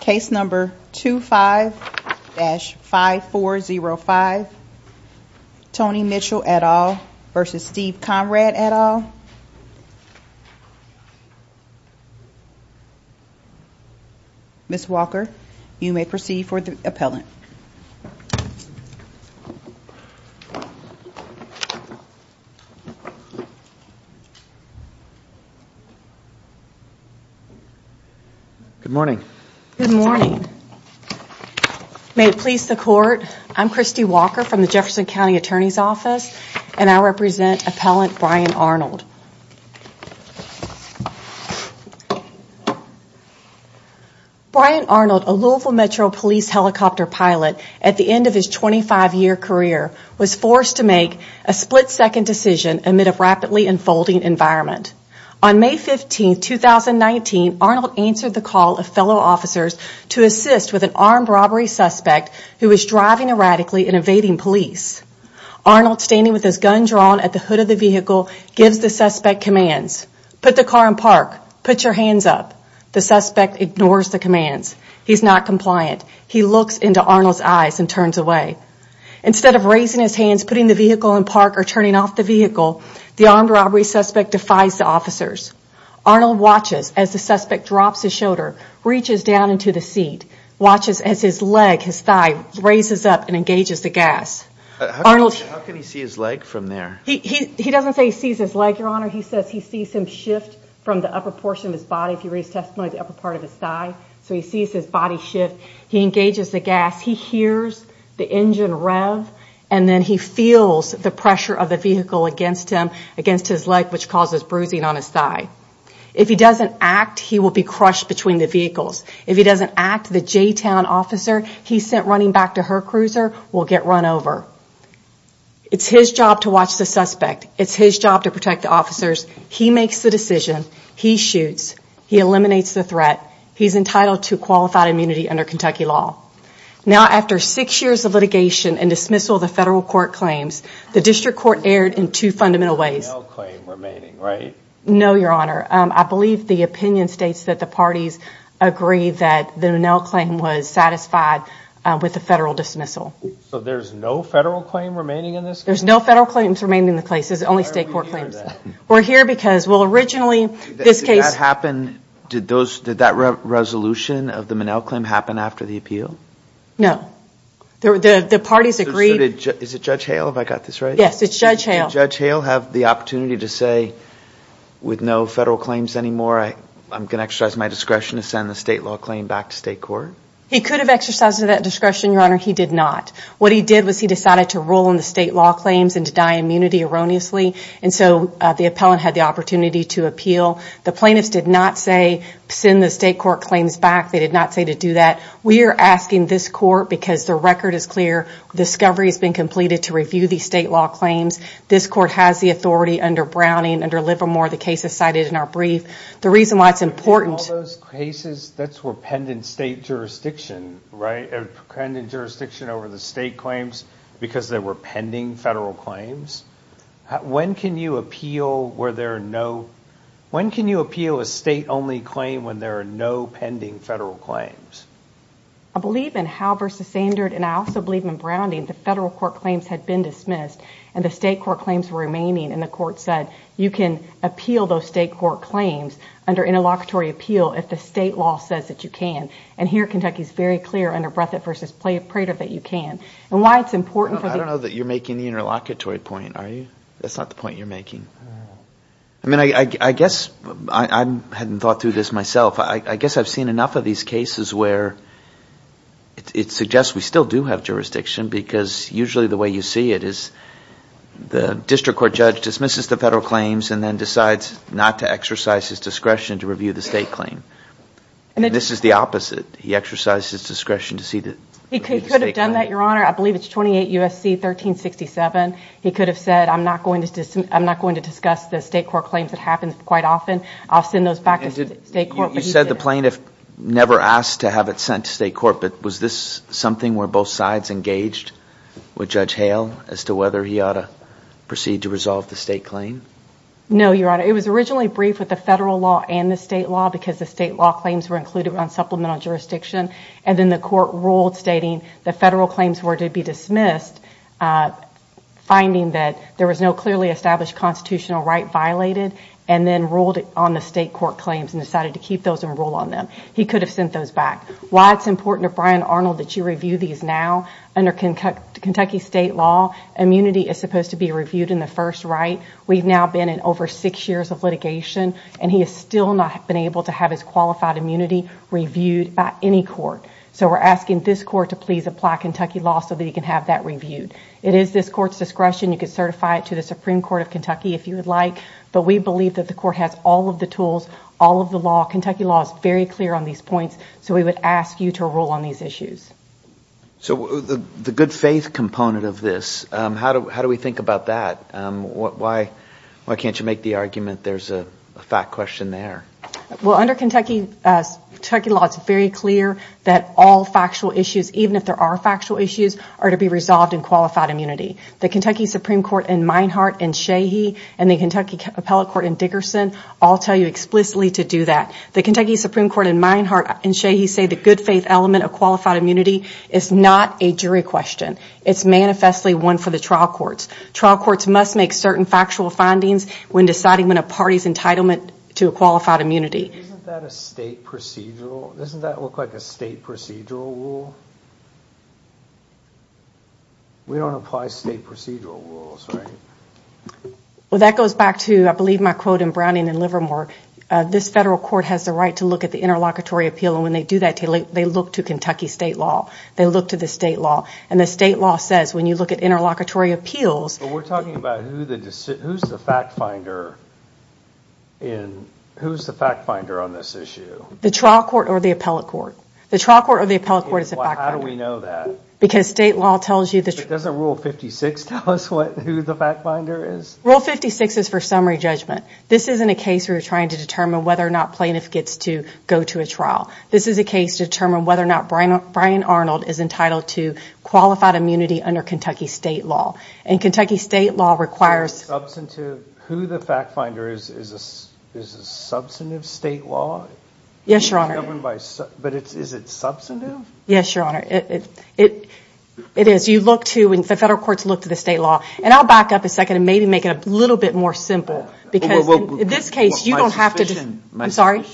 Case number 25-5405, Tony Mitchell et al. v. Steve Conrad et al. Ms. Walker, you may proceed for the appellant. Good morning. May it please the court, I'm Christy Walker from the Jefferson County Attorney's Office and I represent appellant Brian Arnold. Brian Arnold, a Louisville Metro Police helicopter pilot at the end of his 25-year career, was forced to make a split-second decision amid a rapidly unfolding environment. On May 15, 2019, Arnold answered the call of fellow officers to assist with an armed robbery suspect who was driving erratically and evading police. Arnold, standing with his gun drawn at the hood of the vehicle, gives the suspect commands. Put the car in park. Put your hands up. The suspect ignores the commands. He's not compliant. He looks into Arnold's eyes and turns away. Instead of raising his hands, putting the vehicle in park, or turning off the vehicle, the armed robbery suspect defies the officers. Arnold watches as the suspect drops his shoulder, reaches down into the seat, watches as his leg, his thigh, raises up and engages the gas. How can he see his leg from there? He doesn't say he sees his leg, your honor. He says he sees him shift from the upper portion of his body. So he sees his body shift. He engages the gas. He hears the engine rev and then he feels the pressure of the vehicle against him, against his leg, which causes bruising on his thigh. If he doesn't act, he will be crushed between the vehicles. If he doesn't act, the J-Town officer he sent running back to her cruiser will get run over. It's his job to watch the suspect. It's his job to protect the officers. He makes the decision. He shoots. He eliminates the threat. He's entitled to qualified immunity under Kentucky law. Now, after six years of litigation and dismissal of the federal court claims, the district court erred in two fundamental ways. No, your honor. I believe the opinion states that the parties agree that the O'Neill claim was satisfied with the federal dismissal. So there's no federal claim remaining in this case? There's no federal claims remaining in the case. It's only state court claims. We're here because, well, originally this case... Did that resolution of the O'Neill claim happen after the appeal? No. The parties agreed... Is it Judge Hale? Have I got this right? Yes, it's Judge Hale. Did Judge Hale have the opportunity to say, with no federal claims anymore, I'm going to exercise my discretion to send the state law claim back to state court? He could have exercised that discretion, your honor. He did not. What he did was he decided to rule in the state law claims and deny immunity erroneously, and so the appellant had the opportunity to appeal. The plaintiffs did not say send the state court claims back. They did not say to do that. We are asking this court, because the record is clear, discovery has been completed to review these state law claims. This court has the authority under Browning, under Livermore, the cases cited in our brief. The reason why it's important... All those cases, that's where pending state jurisdiction, right? Pending jurisdiction over the state claims because they were pending federal claims? When can you appeal a state-only claim when there are no pending federal claims? I believe in Hale v. Sandard, and I also believe in Browning. The federal court claims had been dismissed, and the state court claims were remaining, and the court said you can appeal those state court claims under interlocutory appeal if the state law says that you can. Here, Kentucky is very clear under Brethe v. Prater that you can. Why it's important... I don't know that you're making the interlocutory point, are you? That's not the point you're making. I guess I hadn't thought through this myself. I guess I've seen enough of these cases where it suggests we still do have jurisdiction because usually the way you see it is the district court judge dismisses the federal claims and then decides not to exercise his discretion to review the state claim. This is the opposite. He exercises his discretion to see the state claim. He could have done that, Your Honor. I believe it's 28 U.S.C. 1367. He could have said I'm not going to discuss the state court claims. It happens quite often. I'll send those back to state court. You said the plaintiff never asked to have it sent to state court, but was this something where both sides engaged with Judge Hale as to whether he ought to proceed to resolve the state claim? No, Your Honor. It was originally briefed with the federal law and the state law because the state law claims were included on supplemental jurisdiction, and then the court ruled stating the federal claims were to be dismissed, finding that there was no clearly established constitutional right violated, and then ruled on the state court claims and decided to keep those and rule on them. He could have sent those back. While it's important to Brian Arnold that you review these now, under Kentucky state law, immunity is supposed to be reviewed in the first right. We've now been in over six years of litigation, and he has still not been able to have his qualified immunity reviewed by any court. So we're asking this court to please apply Kentucky law so that he can have that reviewed. It is this court's discretion. You can certify it to the Supreme Court of Kentucky if you would like, but we believe that the court has all of the tools, all of the law. Kentucky law is very clear on these points, so we would ask you to rule on these issues. So the good faith component of this, how do we think about that? Why can't you make the argument there's a fact question there? Well, under Kentucky law, it's very clear that all factual issues, even if there are factual issues, are to be resolved in qualified immunity. The Kentucky Supreme Court in Meinhart and Shahee, and the Kentucky Appellate Court in Dickerson all tell you explicitly to do that. The Kentucky Supreme Court in Meinhart and Shahee say the good faith element of qualified immunity is not a jury question. It's manifestly one for the trial courts. Trial courts must make certain factual findings when deciding on a party's entitlement to a qualified immunity. Isn't that a state procedural? Doesn't that look like a state procedural rule? We don't apply state procedural rules, right? Well, that goes back to, I believe, my quote in Browning and Livermore. This federal court has the right to look at the interlocutory appeal, and when they do that, they look to Kentucky state law. They look to the state law, and the state law says when you look at interlocutory appeals... But we're talking about who's the fact finder on this issue. The trial court or the appellate court. The trial court or the appellate court is a fact finder. How do we know that? Because state law tells you... But doesn't Rule 56 tell us who the fact finder is? Rule 56 is for summary judgment. This isn't a case where you're trying to determine whether or not plaintiff gets to go to a trial. This is a case to determine whether or not Brian Arnold is entitled to qualified immunity under Kentucky state law. And Kentucky state law requires... Who the fact finder is a substantive state law? Yes, Your Honor. But is it substantive? Yes, Your Honor. It is. You look to and the federal courts look to the state law. And I'll back up a second and maybe make it a little bit more simple. Because in this case, you don't have to... I'm sorry?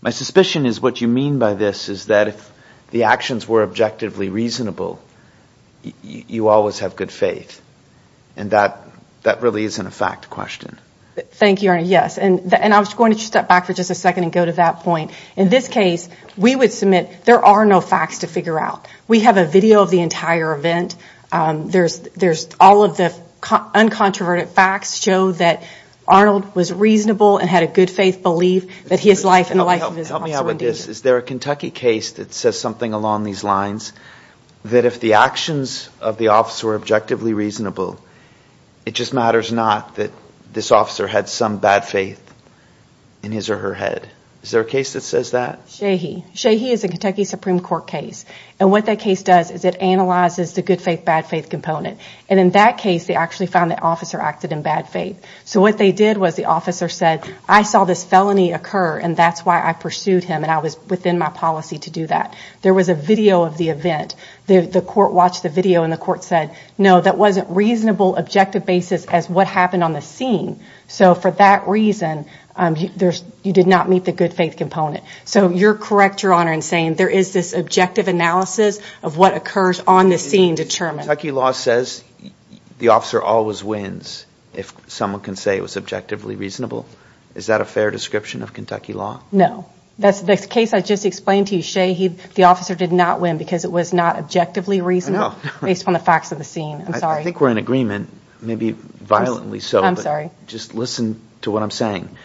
My suspicion is what you mean by this is that if the actions were objectively reasonable, you always have good faith. And that really isn't a fact question. Thank you, Your Honor. Yes. And I was going to step back for just a second and go to that point. In this case, we would submit there are no facts to figure out. We have a video of the entire event. There's all of the uncontroverted facts show that Arnold was reasonable and had a good faith belief that his life and the life of his officer... Help me out with this. Is there a Kentucky case that says something along these lines? That if the actions of the officer were objectively reasonable, it just matters not that this officer had some bad faith in his or her head. Is there a case that says that? Shahi. Shahi is a Kentucky Supreme Court case. And what that case does is it analyzes the good faith, bad faith component. And in that case, they actually found the officer acted in bad faith. So what they did was the officer said, I saw this felony occur and that's why I pursued him and I was within my policy to do that. There was a video of the event. The court watched the video and the court said, no, that wasn't reasonable objective basis as what happened on the scene. So for that reason, you did not meet the good faith component. So you're correct, Your Honor, in saying there is this objective analysis of what occurs on the scene determined. Kentucky law says the officer always wins if someone can say it was objectively reasonable. Is that a fair description of Kentucky law? No. That's the case I just explained to you, Shahi. The officer did not win because it was not objectively reasonable based on the facts of the scene. I think we're in agreement, maybe violently so. Just listen to what I'm saying.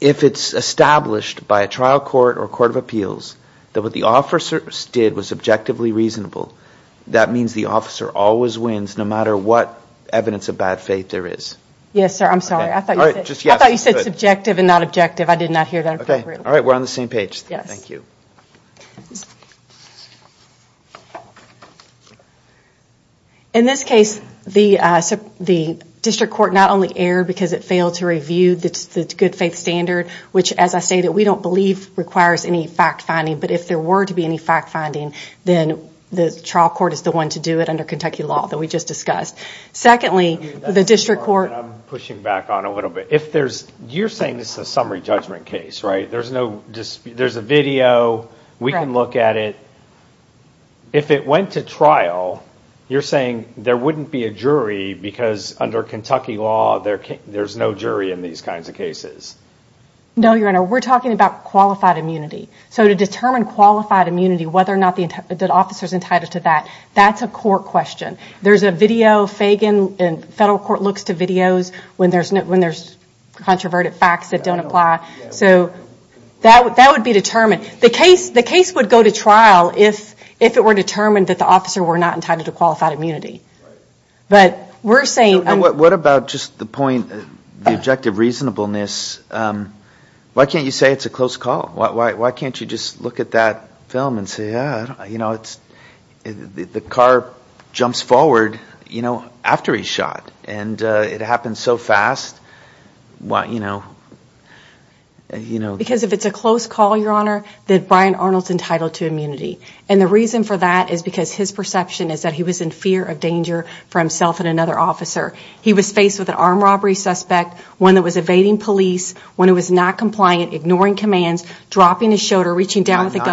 If it's established by a trial court or court of appeals that what the officer did was objectively reasonable, that means the officer always wins no matter what evidence of bad faith there is. Yes, sir. I'm sorry. I thought you said subjective and not objective. I did not hear that. Okay. All right. We're on the same page. Yes. Thank you. In this case, the district court not only erred because it failed to review the good faith standard, which, as I stated, we don't believe requires any fact finding. But if there were to be any fact finding, then the trial court is the one to do it under Kentucky law that we just discussed. Secondly, the district court... I'm pushing back on it a little bit. You're saying this is a summary judgment case, right? There's a video. We can look at it. If it went to trial, you're saying there wouldn't be a jury because under Kentucky law, there's no jury in these kinds of cases. No, Your Honor. We're talking about qualified immunity. So to determine qualified immunity, whether or not the officer is entitled to that, that's a court question. There's a video. Federal court looks to videos when there's controverted facts that don't apply. So that would be determined. The case would go to trial if it were determined that the officer were not entitled to qualified immunity. But we're saying... What about just the point, the objective reasonableness? Why can't you say it's a close call? Why can't you just look at that film and say, you know, the car jumps forward, you know, after he's shot. And it happens so fast. Because if it's a close call, Your Honor, then Brian Arnold's entitled to immunity. And the reason for that is because his perception is that he was in fear of danger for himself and another officer. He was faced with an armed robbery suspect, one that was evading police, one that was not compliant, ignoring commands, dropping his shoulder, reaching down with a gun.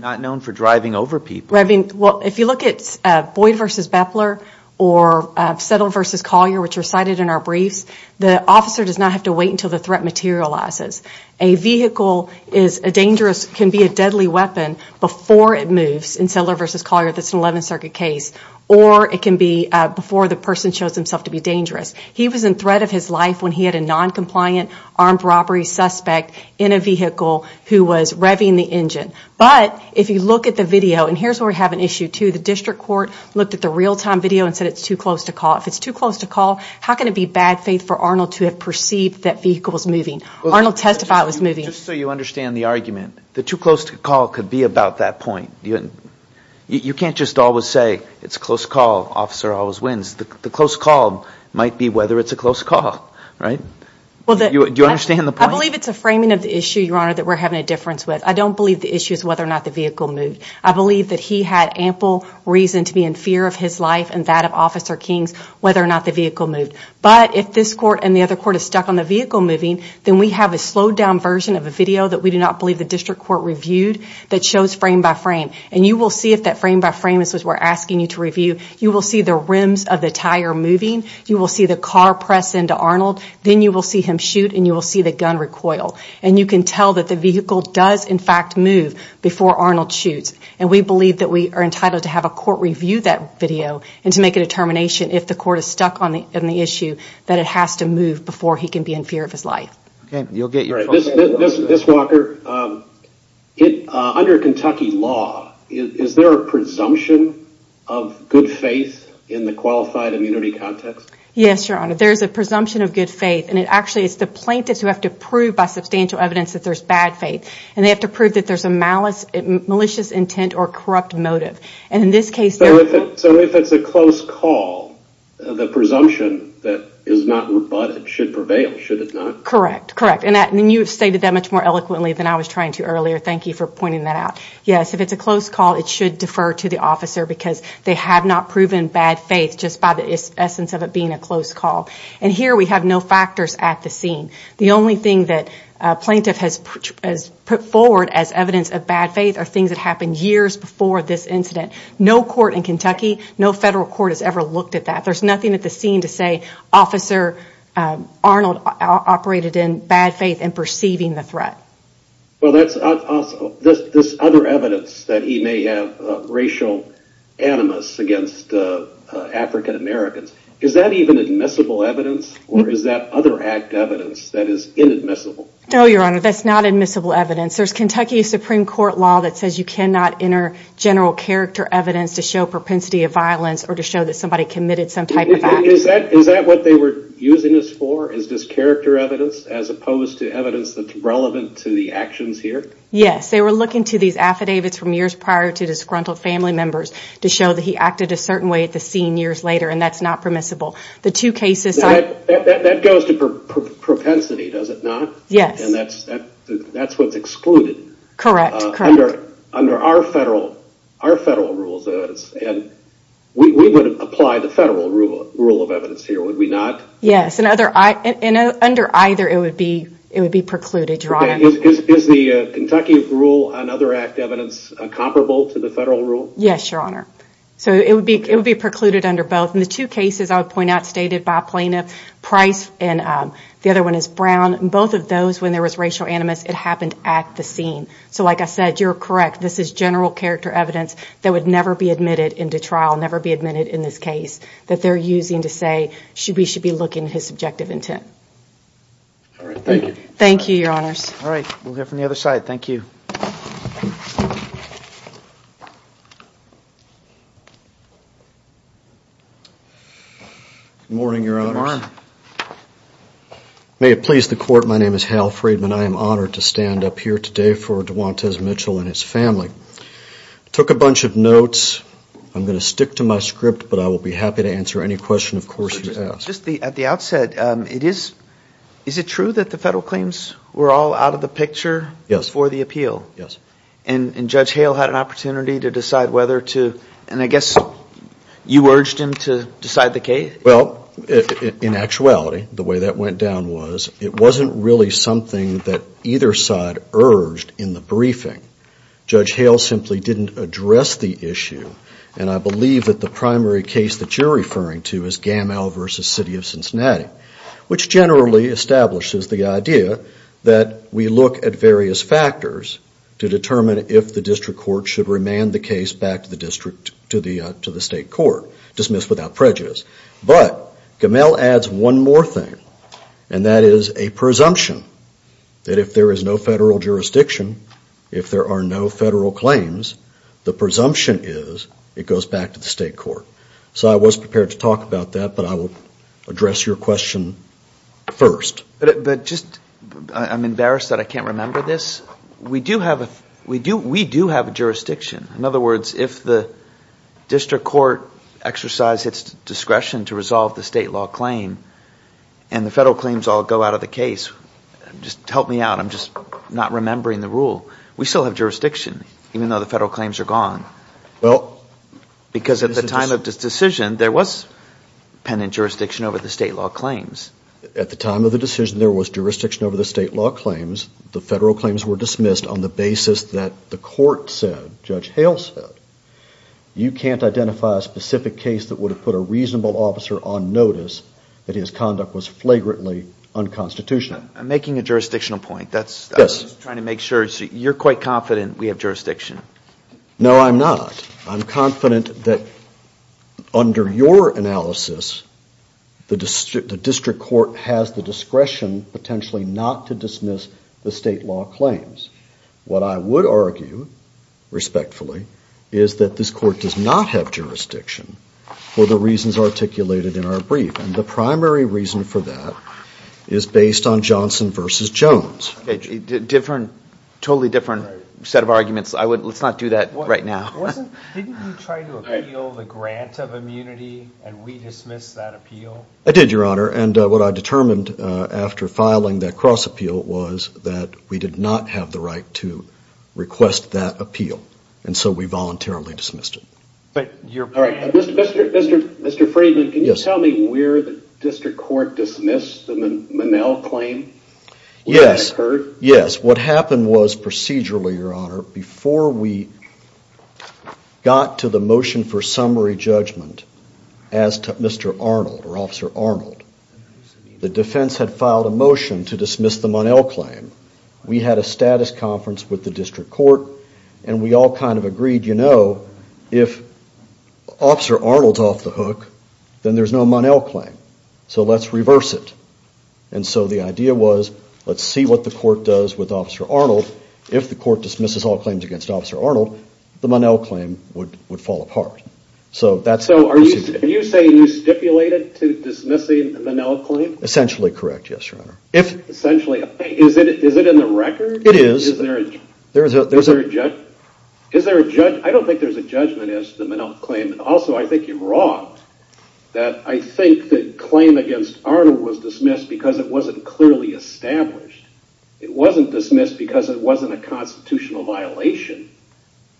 Not known for driving over people. Well, if you look at Boyd v. Bepler or Settler v. Collier, which are cited in our briefs, the officer does not have to wait until the threat materializes. A vehicle can be a deadly weapon before it moves in Settler v. Collier. That's an 11th Circuit case. Or it can be before the person shows himself to be dangerous. He was in threat of his life when he had a noncompliant armed robbery suspect in a vehicle who was revving the engine. But if you look at the video, and here's where we have an issue, too, the district court looked at the real-time video and said it's too close to call. If it's too close to call, how can it be bad faith for Arnold to have perceived that vehicle was moving? Arnold testified it was moving. Just so you understand the argument, the too close to call could be about that point. You can't just always say it's a close call, officer always wins. The close call might be whether it's a close call. Do you understand the point? I believe it's a framing of the issue, Your Honor, that we're having a difference with. I don't believe the issue is whether or not the vehicle moved. I believe that he had ample reason to be in fear of his life and that of Officer King's whether or not the vehicle moved. But if this court and the other court is stuck on the vehicle moving, then we have a slowed-down version of a video that we do not believe the district court reviewed that shows frame by frame. And you will see if that frame by frame is what we're asking you to review, you will see the rims of the tire moving, you will see the car press into Arnold, then you will see him shoot and you will see the gun recoil. And you can tell that the vehicle does in fact move before Arnold shoots. And we believe that we are entitled to have a court review that video and to make a determination if the court is stuck on the issue that it has to move before he can be in fear of his life. Ms. Walker, under Kentucky law, is there a presumption of good faith in the qualified immunity context? Yes, Your Honor. There is a presumption of good faith. And actually it's the plaintiffs who have to prove by substantial evidence that there's bad faith. And they have to prove that there's a malicious intent or corrupt motive. So if it's a close call, the presumption that is not rebutted should prevail, should it not? Correct, correct. And you have stated that much more eloquently than I was trying to earlier. Thank you for pointing that out. Yes, if it's a close call, it should defer to the officer because they have not proven bad faith just by the essence of it being a close call. And here we have no factors at the scene. The only thing that a plaintiff has put forward as evidence of bad faith are things that happened years before this incident. No court in Kentucky, no federal court has ever looked at that. There's nothing at the scene to say Officer Arnold operated in bad faith and perceiving the threat. Well, that's other evidence that he may have racial animus against African Americans. Is that even admissible evidence or is that other act evidence that is inadmissible? No, Your Honor, that's not admissible evidence. There's Kentucky Supreme Court law that says you cannot enter general character evidence to show propensity of violence or to show that somebody committed some type of act. Is that what they were using this for? Is this character evidence as opposed to evidence that's relevant to the actions here? Yes, they were looking to these affidavits from years prior to disgruntled family members to show that he acted a certain way at the scene years later and that's not permissible. That goes to propensity, does it not? Yes. And that's what's excluded. Correct, correct. Under our federal rules, we would apply the federal rule of evidence here, would we not? Yes, and under either it would be precluded, Your Honor. Is the Kentucky rule and other act evidence comparable to the federal rule? Yes, Your Honor. So it would be precluded under both. In the two cases I would point out stated by Plaintiff Price and the other one is Brown, both of those when there was racial animus it happened at the scene. So like I said, you're correct, this is general character evidence that would never be admitted into trial, never be admitted in this case, that they're using to say we should be looking at his subjective intent. All right, thank you. Thank you, Your Honors. All right, we'll go from the other side. Thank you. Good morning, Your Honors. Good morning. May it please the Court, my name is Hal Freedman. I am honored to stand up here today for Duwantes Mitchell and his family. I took a bunch of notes. I'm going to stick to my script, but I will be happy to answer any question, of course, you ask. At the outset, is it true that the federal claims were all out of the picture before the appeal? Yes. And Judge Hale had an opportunity to decide whether to, and I guess you urged him to decide the case? Well, in actuality, the way that went down was it wasn't really something that either side urged in the briefing. Judge Hale simply didn't address the issue, and I believe that the primary case that you're referring to is Gamal v. City of Cincinnati, which generally establishes the idea that we look at various factors to determine if the district court should remand the case back to the state court, dismissed without prejudice. But Gamal adds one more thing, and that is a presumption that if there is no federal jurisdiction, if there are no federal claims, the presumption is it goes back to the state court. So I was prepared to talk about that, but I will address your question first. But just, I'm embarrassed that I can't remember this. We do have a jurisdiction. In other words, if the district court exercised its discretion to resolve the state law claim and the federal claims all go out of the case, just help me out. I'm just not remembering the rule. We still have jurisdiction, even though the federal claims are gone. Because at the time of the decision, there was penitent jurisdiction over the state law claims. At the time of the decision, there was jurisdiction over the state law claims. The federal claims were dismissed on the basis that the court said, Judge Hale said, you can't identify a specific case that would have put a reasonable officer on notice that his conduct was flagrantly unconstitutional. I'm making a jurisdictional point. Yes. I'm just trying to make sure. You're quite confident we have jurisdiction. No, I'm not. I'm confident that under your analysis, the district court has the discretion, potentially, not to dismiss the state law claims. What I would argue, respectfully, is that this court does not have jurisdiction for the reasons articulated in our brief. And the primary reason for that is based on Johnson v. Jones. A totally different set of arguments. Let's not do that right now. Didn't you try to appeal the grant of immunity and we dismissed that appeal? I did, Your Honor. And what I determined after filing that cross-appeal was that we did not have the right to request that appeal. And so we voluntarily dismissed it. All right. Mr. Friedman, can you tell me where the district court dismissed the Monell claim? Yes. Where that occurred? Yes. What happened was, procedurally, Your Honor, before we got to the motion for summary judgment, Mr. Arnold, or Officer Arnold, the defense had filed a motion to dismiss the Monell claim. We had a status conference with the district court, and we all kind of agreed, you know, if Officer Arnold's off the hook, then there's no Monell claim. So let's reverse it. And so the idea was, let's see what the court does with Officer Arnold. If the court dismisses all claims against Officer Arnold, the Monell claim would fall apart. So are you saying you stipulated to dismissing the Monell claim? Essentially correct, yes, Your Honor. Essentially. Is it in the record? It is. Is there a judgment? I don't think there's a judgment as to the Monell claim. Also, I think you're wrong, that I think the claim against Arnold was dismissed because it wasn't clearly established. It wasn't dismissed because it wasn't a constitutional violation,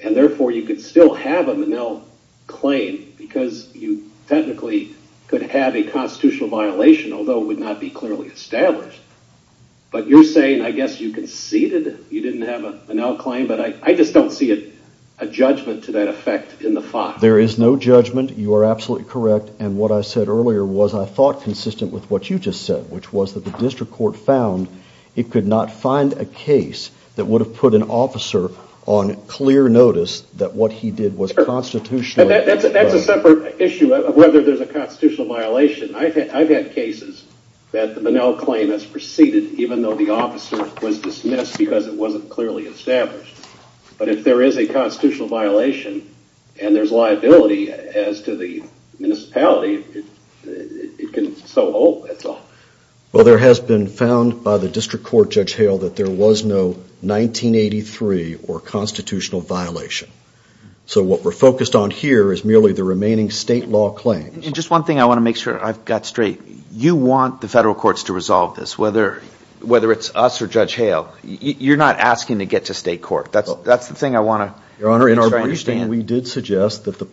and therefore you could still have a Monell claim because you technically could have a constitutional violation, although it would not be clearly established. But you're saying, I guess, you conceded you didn't have a Monell claim? But I just don't see a judgment to that effect in the file. There is no judgment. You are absolutely correct. And what I said earlier was, I thought, consistent with what you just said, which was that the district court found it could not find a case that would have put an officer on clear notice that what he did was constitutional. That's a separate issue of whether there's a constitutional violation. I've had cases that the Monell claim has proceeded, even though the officer was dismissed because it wasn't clearly established. But if there is a constitutional violation, and there's liability as to the municipality, it can so hope, that's all. Well, there has been found by the district court, Judge Hale, that there was no 1983 or constitutional violation. So what we're focused on here is merely the remaining state law claims. Just one thing I want to make sure I've got straight. You want the federal courts to resolve this, whether it's us or Judge Hale. You're not asking to get to state court. That's the thing I want to make sure I understand. Your Honor, in our briefing, we did suggest that the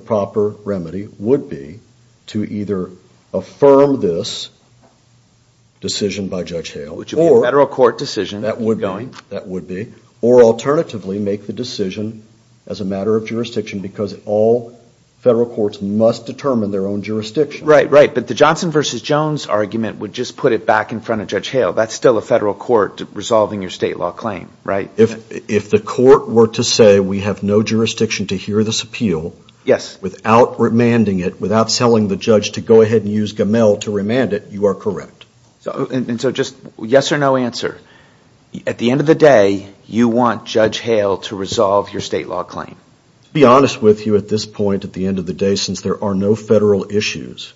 proper remedy would be to either affirm this decision by Judge Hale. Which would be a federal court decision. That would be. That would be. Or alternatively, make the decision as a matter of jurisdiction, because all federal courts must determine their own jurisdiction. Right, right. But the Johnson v. Jones argument would just put it back in front of Judge Hale. That's still a federal court resolving your state law claim, right? If the court were to say we have no jurisdiction to hear this appeal. Yes. Without remanding it, without telling the judge to go ahead and use Gamel to remand it, you are correct. And so just yes or no answer. At the end of the day, you want Judge Hale to resolve your state law claim. To be honest with you at this point, at the end of the day, since there are no federal issues,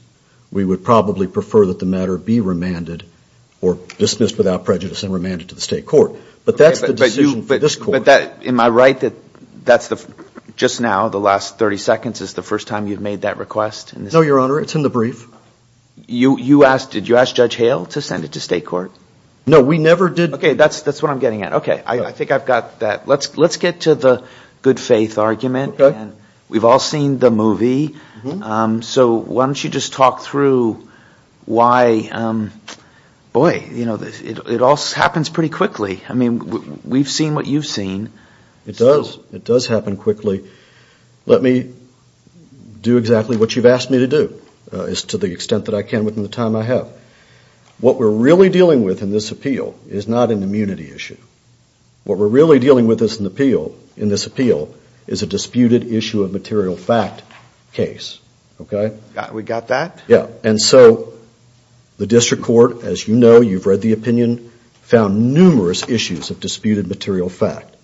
we would probably prefer that the matter be remanded or dismissed without prejudice and remanded to the state court. But that's the decision for this court. Am I right that that's just now, the last 30 seconds, is the first time you've made that request? No, Your Honor. It's in the brief. Did you ask Judge Hale to send it to state court? No, we never did. Okay, that's what I'm getting at. Okay. I think I've got that. Let's get to the good faith argument. Okay. We've all seen the movie. So why don't you just talk through why, boy, you know, it all happens pretty quickly. I mean, we've seen what you've seen. It does. It does happen quickly. Let me do exactly what you've asked me to do to the extent that I can within the time I have. What we're really dealing with in this appeal is not an immunity issue. What we're really dealing with in this appeal is a disputed issue of material fact case. We got that? Yeah. And so the district court, as you know, you've read the opinion, found numerous issues of disputed material fact.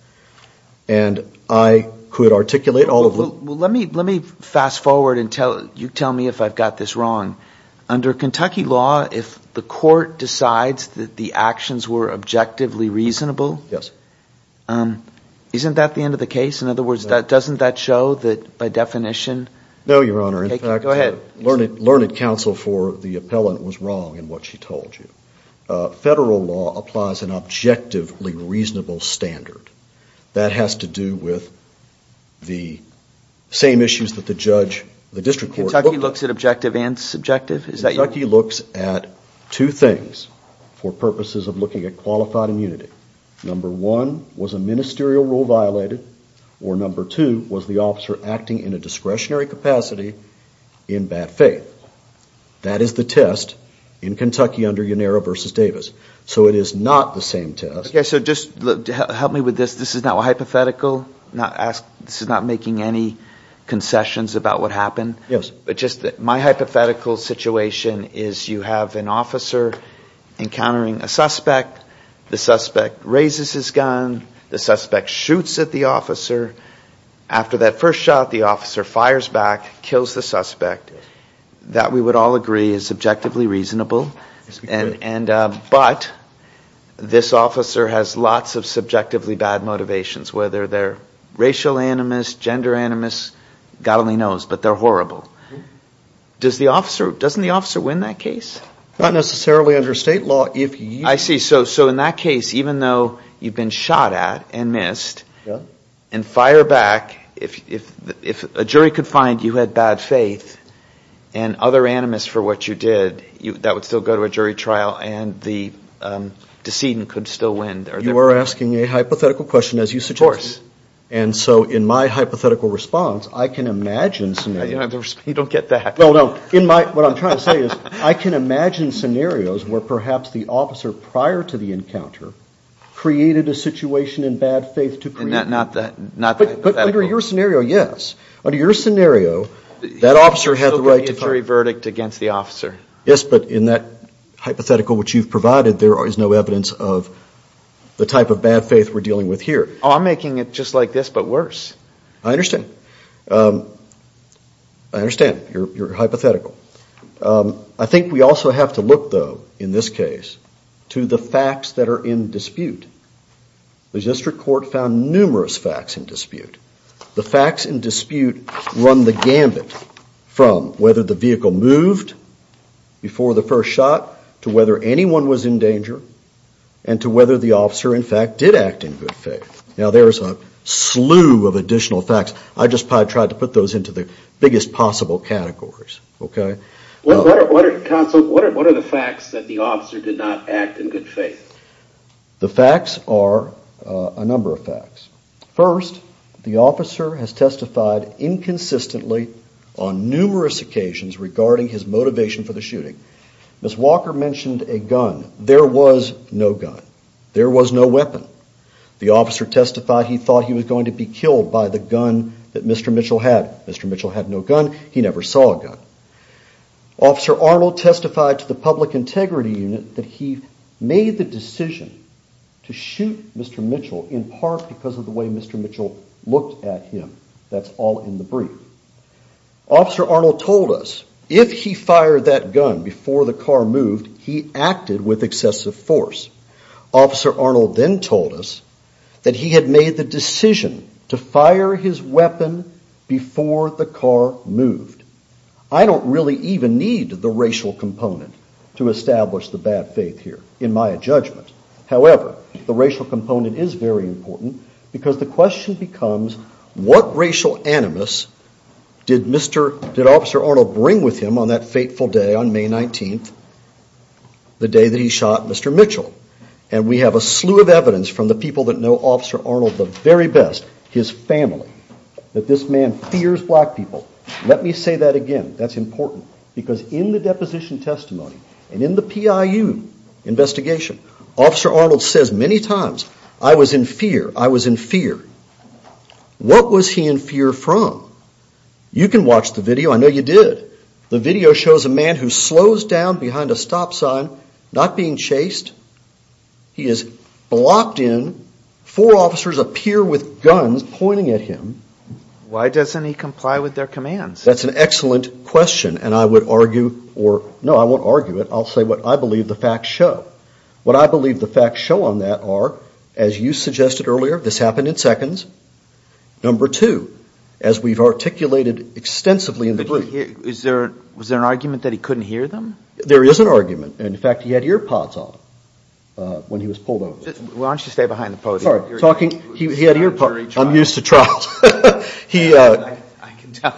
And I could articulate all of them. Well, let me fast forward and you tell me if I've got this wrong. Under Kentucky law, if the court decides that the actions were objectively reasonable. Yes. Isn't that the end of the case? In other words, doesn't that show that by definition. No, Your Honor. Go ahead. Learned counsel for the appellant was wrong in what she told you. Federal law applies an objectively reasonable standard. That has to do with the same issues that the judge, the district court. Kentucky looks at objective and subjective? Kentucky looks at two things for purposes of looking at qualified immunity. Number one, was a ministerial rule violated? Or number two, was the officer acting in a discretionary capacity in bad faith? That is the test in Kentucky under Yanira v. Davis. So it is not the same test. Okay, so just help me with this. This is not hypothetical? This is not making any concessions about what happened? Yes. But just my hypothetical situation is you have an officer encountering a suspect. The suspect raises his gun. The suspect shoots at the officer. After that first shot, the officer fires back, kills the suspect. That we would all agree is subjectively reasonable. But this officer has lots of subjectively bad motivations. Whether they're racial animus, gender animus, God only knows. But they're horrible. Doesn't the officer win that case? Not necessarily under state law. I see. So in that case, even though you've been shot at and missed and fire back, if a jury could find you had bad faith and other animus for what you did, that would still go to a jury trial and the decedent could still win. You are asking a hypothetical question, as you suggested. And so in my hypothetical response, I can imagine scenarios. You don't get that. No, no. What I'm trying to say is I can imagine scenarios where perhaps the officer prior to the encounter created a situation in bad faith to create. Not that hypothetical. But under your scenario, yes. Under your scenario, that officer had the right to fire. He still could be a jury verdict against the officer. Yes, but in that hypothetical which you've provided, there is no evidence of the type of bad faith we're dealing with here. I'm making it just like this, but worse. I understand. I understand your hypothetical. I think we also have to look, though, in this case, to the facts that are in dispute. The district court found numerous facts in dispute. The facts in dispute run the gambit from whether the vehicle moved before the first shot, to whether anyone was in danger, and to whether the officer, in fact, did act in good faith. Now, there is a slew of additional facts. I just tried to put those into the biggest possible categories. What are the facts that the officer did not act in good faith? The facts are a number of facts. First, the officer has testified inconsistently on numerous occasions regarding his motivation for the shooting. Ms. Walker mentioned a gun. There was no gun. There was no weapon. The officer testified he thought he was going to be killed by the gun that Mr. Mitchell had. Mr. Mitchell had no gun. He never saw a gun. Officer Arnold testified to the Public Integrity Unit that he made the decision to shoot Mr. Mitchell in part because of the way Mr. Mitchell looked at him. That's all in the brief. Officer Arnold told us if he fired that gun before the car moved, he acted with excessive force. Officer Arnold then told us that he had made the decision to fire his weapon before the car moved. I don't really even need the racial component to establish the bad faith here, in my judgment. However, the racial component is very important because the question becomes, what racial animus did Officer Arnold bring with him on that fateful day on May 19th, the day that he shot Mr. Mitchell? We have a slew of evidence from the people that know Officer Arnold the very best, his family, that this man fears black people. Let me say that again. That's important because in the deposition testimony and in the PIU investigation, Officer Arnold says many times, I was in fear. I was in fear. What was he in fear from? You can watch the video. I know you did. The video shows a man who slows down behind a stop sign, not being chased. He is blocked in. Four officers appear with guns pointing at him. Why doesn't he comply with their commands? That's an excellent question, and I would argue, or no, I won't argue it. I'll say what I believe the facts show. What I believe the facts show on that are, as you suggested earlier, this happened in seconds. Number two, as we've articulated extensively in the brief. Was there an argument that he couldn't hear them? There is an argument. In fact, he had ear pods on when he was pulled over. Why don't you stay behind the podium? I'm used to trials. I can tell.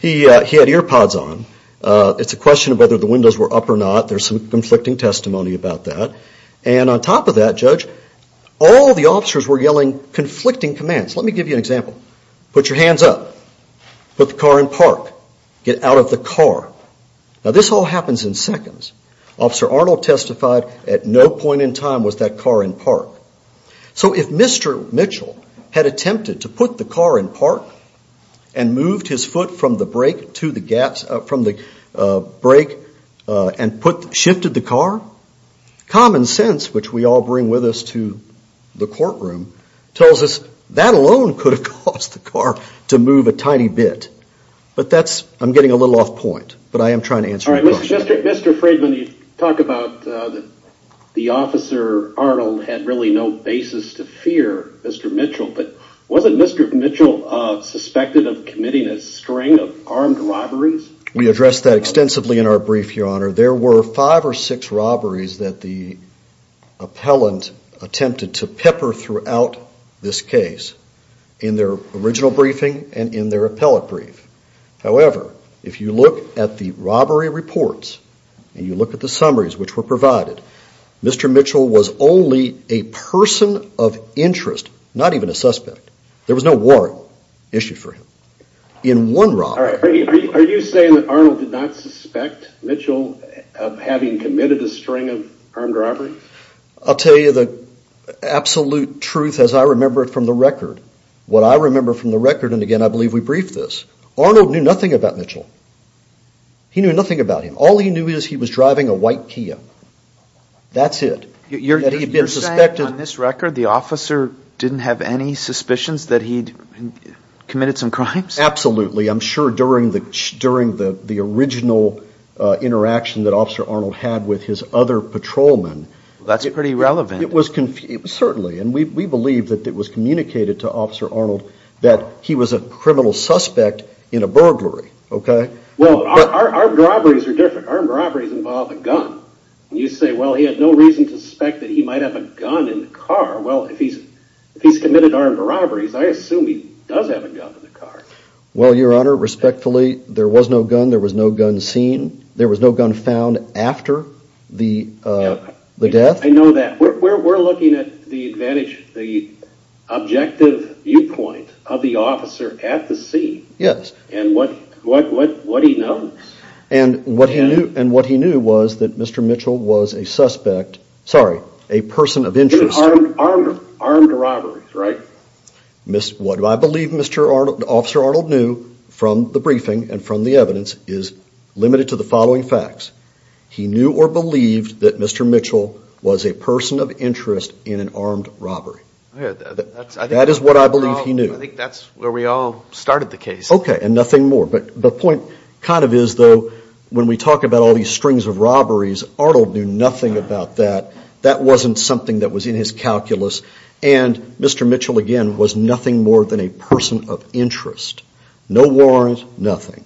He had ear pods on. It's a question of whether the windows were up or not. There's some conflicting testimony about that. And on top of that, Judge, all the officers were yelling conflicting commands. Let me give you an example. Put your hands up. Put the car in park. Get out of the car. Now this all happens in seconds. Officer Arnold testified at no point in time was that car in park. So if Mr. Mitchell had attempted to put the car in park and moved his foot from the brake and shifted the car, common sense, which we all bring with us to the courtroom, tells us that alone could have caused the car to move a tiny bit. But that's, I'm getting a little off point, but I am trying to answer your question. Mr. Friedman, you talk about the officer Arnold had really no basis to fear Mr. Mitchell, but wasn't Mr. Mitchell suspected of committing a string of armed robberies? We addressed that extensively in our brief, Your Honor. There were five or six robberies that the appellant attempted to pepper throughout this case in their original briefing and in their appellate brief. However, if you look at the robbery reports and you look at the summaries which were provided, Mr. Mitchell was only a person of interest, not even a suspect. There was no warrant issued for him. Are you saying that Arnold did not suspect Mitchell of having committed a string of armed robberies? I'll tell you the absolute truth as I remember it from the record. What I remember from the record, and again I believe we briefed this, Arnold knew nothing about Mitchell. He knew nothing about him. All he knew is he was driving a white Kia. That's it. You're saying on this record the officer didn't have any suspicions that he'd committed some crimes? Absolutely. I'm sure during the original interaction that Officer Arnold had with his other patrolmen. That's pretty relevant. Certainly. And we believe that it was communicated to Officer Arnold that he was a criminal suspect in a burglary. Well, armed robberies are different. Armed robberies involve a gun. You say, well, he had no reason to suspect that he might have a gun in the car. Well, if he's committed armed robberies, I assume he does have a gun in the car. Well, Your Honor, respectfully, there was no gun. There was no gun seen. There was no gun found after the death. I know that. We're looking at the objective viewpoint of the officer at the scene. Yes. And what he knows. And what he knew was that Mr. Mitchell was a suspect, sorry, a person of interest. Armed robberies, right? What I believe Officer Arnold knew from the briefing and from the evidence is limited to the following facts. He knew or believed that Mr. Mitchell was a person of interest in an armed robbery. That is what I believe he knew. I think that's where we all started the case. Okay, and nothing more. But the point kind of is, though, when we talk about all these strings of robberies, Arnold knew nothing about that. That wasn't something that was in his calculus. And Mr. Mitchell, again, was nothing more than a person of interest. No warrant, nothing.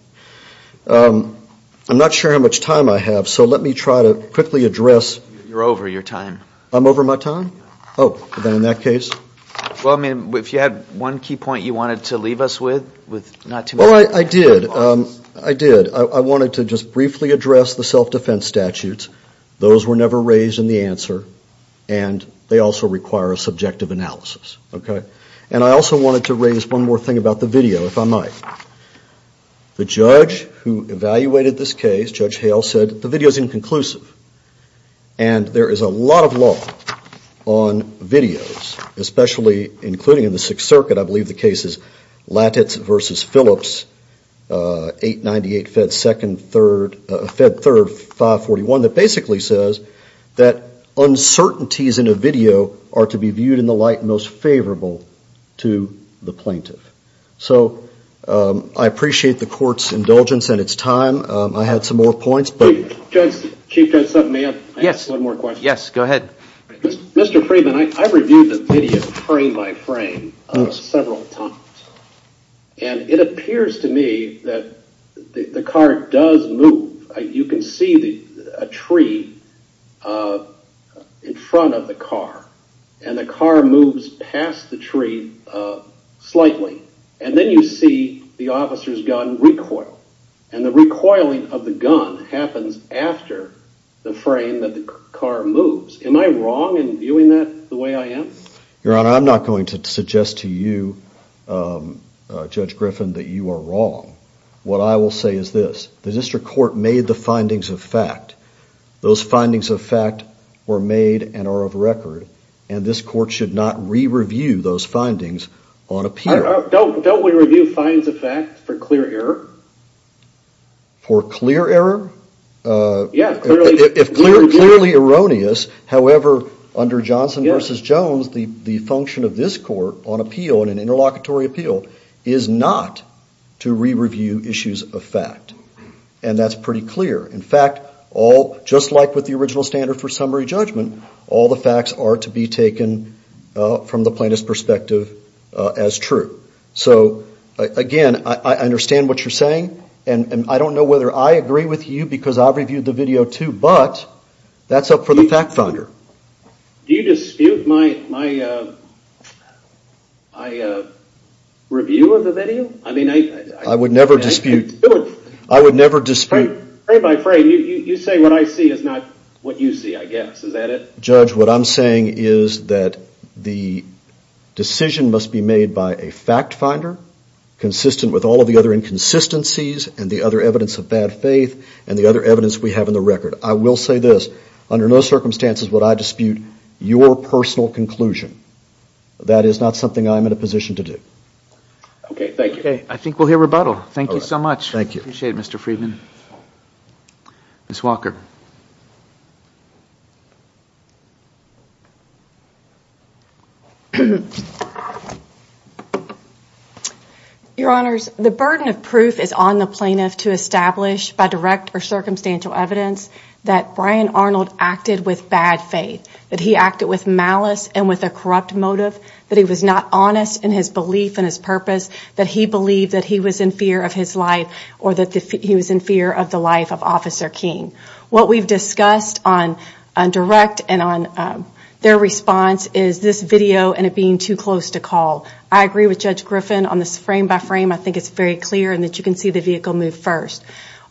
I'm not sure how much time I have, so let me try to quickly address. You're over your time. I'm over my time? Yeah. Oh, then in that case. Well, I mean, if you had one key point you wanted to leave us with, with not too much. Well, I did. I did. I wanted to just briefly address the self-defense statutes. Those were never raised in the answer, and they also require a subjective analysis. And I also wanted to raise one more thing about the video, if I might. The judge who evaluated this case, Judge Hale, said the video is inconclusive. And there is a lot of law on videos, especially including in the Sixth Circuit, I believe the case is Latitz v. Phillips, 898 Fed 3rd, 541, that basically says that uncertainties in a video are to be viewed in the light most favorable to the plaintiff. So I appreciate the court's indulgence and its time. I had some more points. Chief Judge Sutton, may I ask one more question? Yes, go ahead. Mr. Freeman, I reviewed the video frame by frame several times, and it appears to me that the car does move. You can see a tree in front of the car, and the car moves past the tree slightly. And then you see the officer's gun recoil, and the recoiling of the gun happens after the frame that the car moves. Am I wrong in viewing that the way I am? Your Honor, I'm not going to suggest to you, Judge Griffin, that you are wrong. What I will say is this. The district court made the findings of fact. Those findings of fact were made and are of record, and this court should not re-review those findings on appeal. Don't we review finds of fact for clear error? For clear error? Yes, clearly. If clearly erroneous, however, under Johnson v. Jones, the function of this court on appeal and an interlocutory appeal is not to re-review issues of fact, and that's pretty clear. In fact, just like with the original standard for summary judgment, all the facts are to be taken from the plaintiff's perspective as true. So, again, I understand what you're saying, and I don't know whether I agree with you because I've reviewed the video too, but that's up for the fact finder. Do you dispute my review of the video? I would never dispute it. I would never dispute it. Frame by frame, you say what I see is not what you see, I guess. Is that it? Judge, what I'm saying is that the decision must be made by a fact finder consistent with all of the other inconsistencies and the other evidence of bad faith and the other evidence we have in the record. I will say this. Under no circumstances would I dispute your personal conclusion. That is not something I'm in a position to do. Okay, thank you. Okay, I think we'll hear rebuttal. Thank you so much. Thank you. Appreciate it, Mr. Friedman. Ms. Walker. Your Honors, the burden of proof is on the plaintiff to establish by direct or circumstantial evidence that Brian Arnold acted with bad faith, that he acted with malice and with a corrupt motive, that he was not honest in his belief and his purpose, that he believed that he was in fear of his life or that he was in fear of the life of Officer King. What we've discussed on direct and on their response is this video and it being too close to call. I agree with Judge Griffin on this frame by frame. I think it's very clear and that you can see the vehicle move first.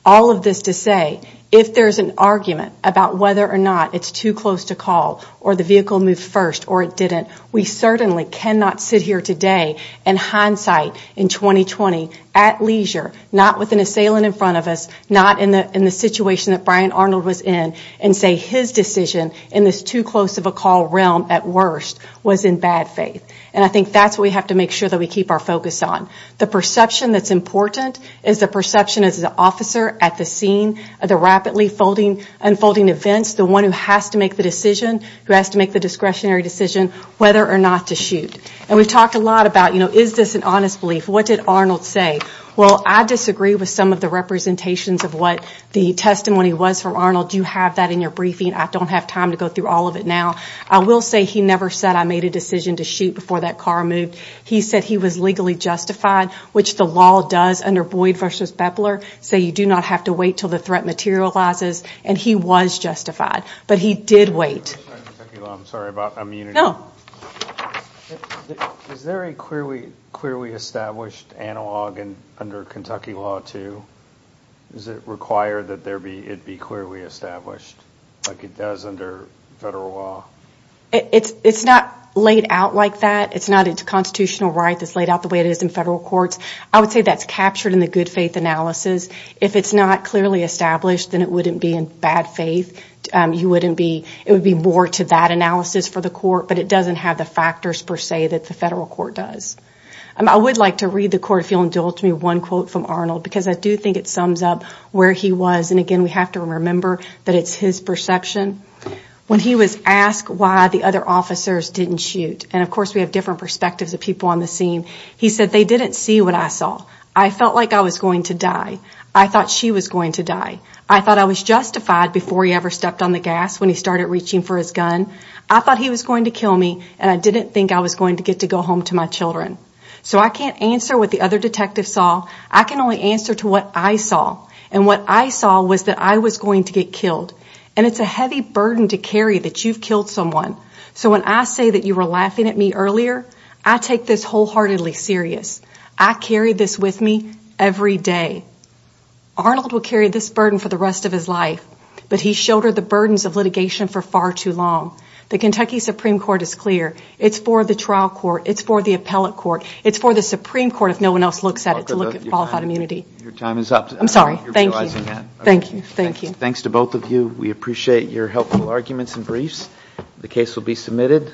All of this to say, if there's an argument about whether or not it's too close to call or the vehicle moved first or it didn't, we certainly cannot sit here today in hindsight in 2020 at leisure, not with an assailant in front of us, not in the situation that Brian Arnold was in and say his decision in this too close of a call realm at worst was in bad faith. And I think that's what we have to make sure that we keep our focus on. The perception that's important is the perception as an officer at the scene, the rapidly unfolding events, the one who has to make the decision, who has to make the discretionary decision whether or not to shoot. And we've talked a lot about, you know, is this an honest belief? What did Arnold say? Well, I disagree with some of the representations of what the testimony was from Arnold. You have that in your briefing. I don't have time to go through all of it now. I will say he never said I made a decision to shoot before that car moved. He said he was legally justified, which the law does under Boyd v. Bepler, say you do not have to wait until the threat materializes, and he was justified, but he did wait. I'm sorry about immunity. Is there a clearly established analog under Kentucky law too? Is it required that it be clearly established like it does under federal law? It's not laid out like that. It's not a constitutional right that's laid out the way it is in federal courts. I would say that's captured in the good faith analysis. If it's not clearly established, then it wouldn't be in bad faith. It would be more to that analysis for the court, but it doesn't have the factors per se that the federal court does. I would like to read the court, if you'll indulge me, one quote from Arnold, because I do think it sums up where he was, and, again, we have to remember that it's his perception. When he was asked why the other officers didn't shoot, and, of course, we have different perspectives of people on the scene, he said, they didn't see what I saw. I felt like I was going to die. I thought she was going to die. I thought I was justified before he ever stepped on the gas when he started reaching for his gun. I thought he was going to kill me, and I didn't think I was going to get to go home to my children. So I can't answer what the other detective saw. I can only answer to what I saw, and what I saw was that I was going to get killed, and it's a heavy burden to carry that you've killed someone. So when I say that you were laughing at me earlier, I take this wholeheartedly serious. I carry this with me every day. Arnold will carry this burden for the rest of his life, but he showed her the burdens of litigation for far too long. The Kentucky Supreme Court is clear. It's for the trial court. It's for the appellate court. It's for the Supreme Court, if no one else looks at it, to look at qualified immunity. Your time is up. I'm sorry. Thank you. Thank you. Thanks to both of you. We appreciate your helpful arguments and briefs. The case will be submitted.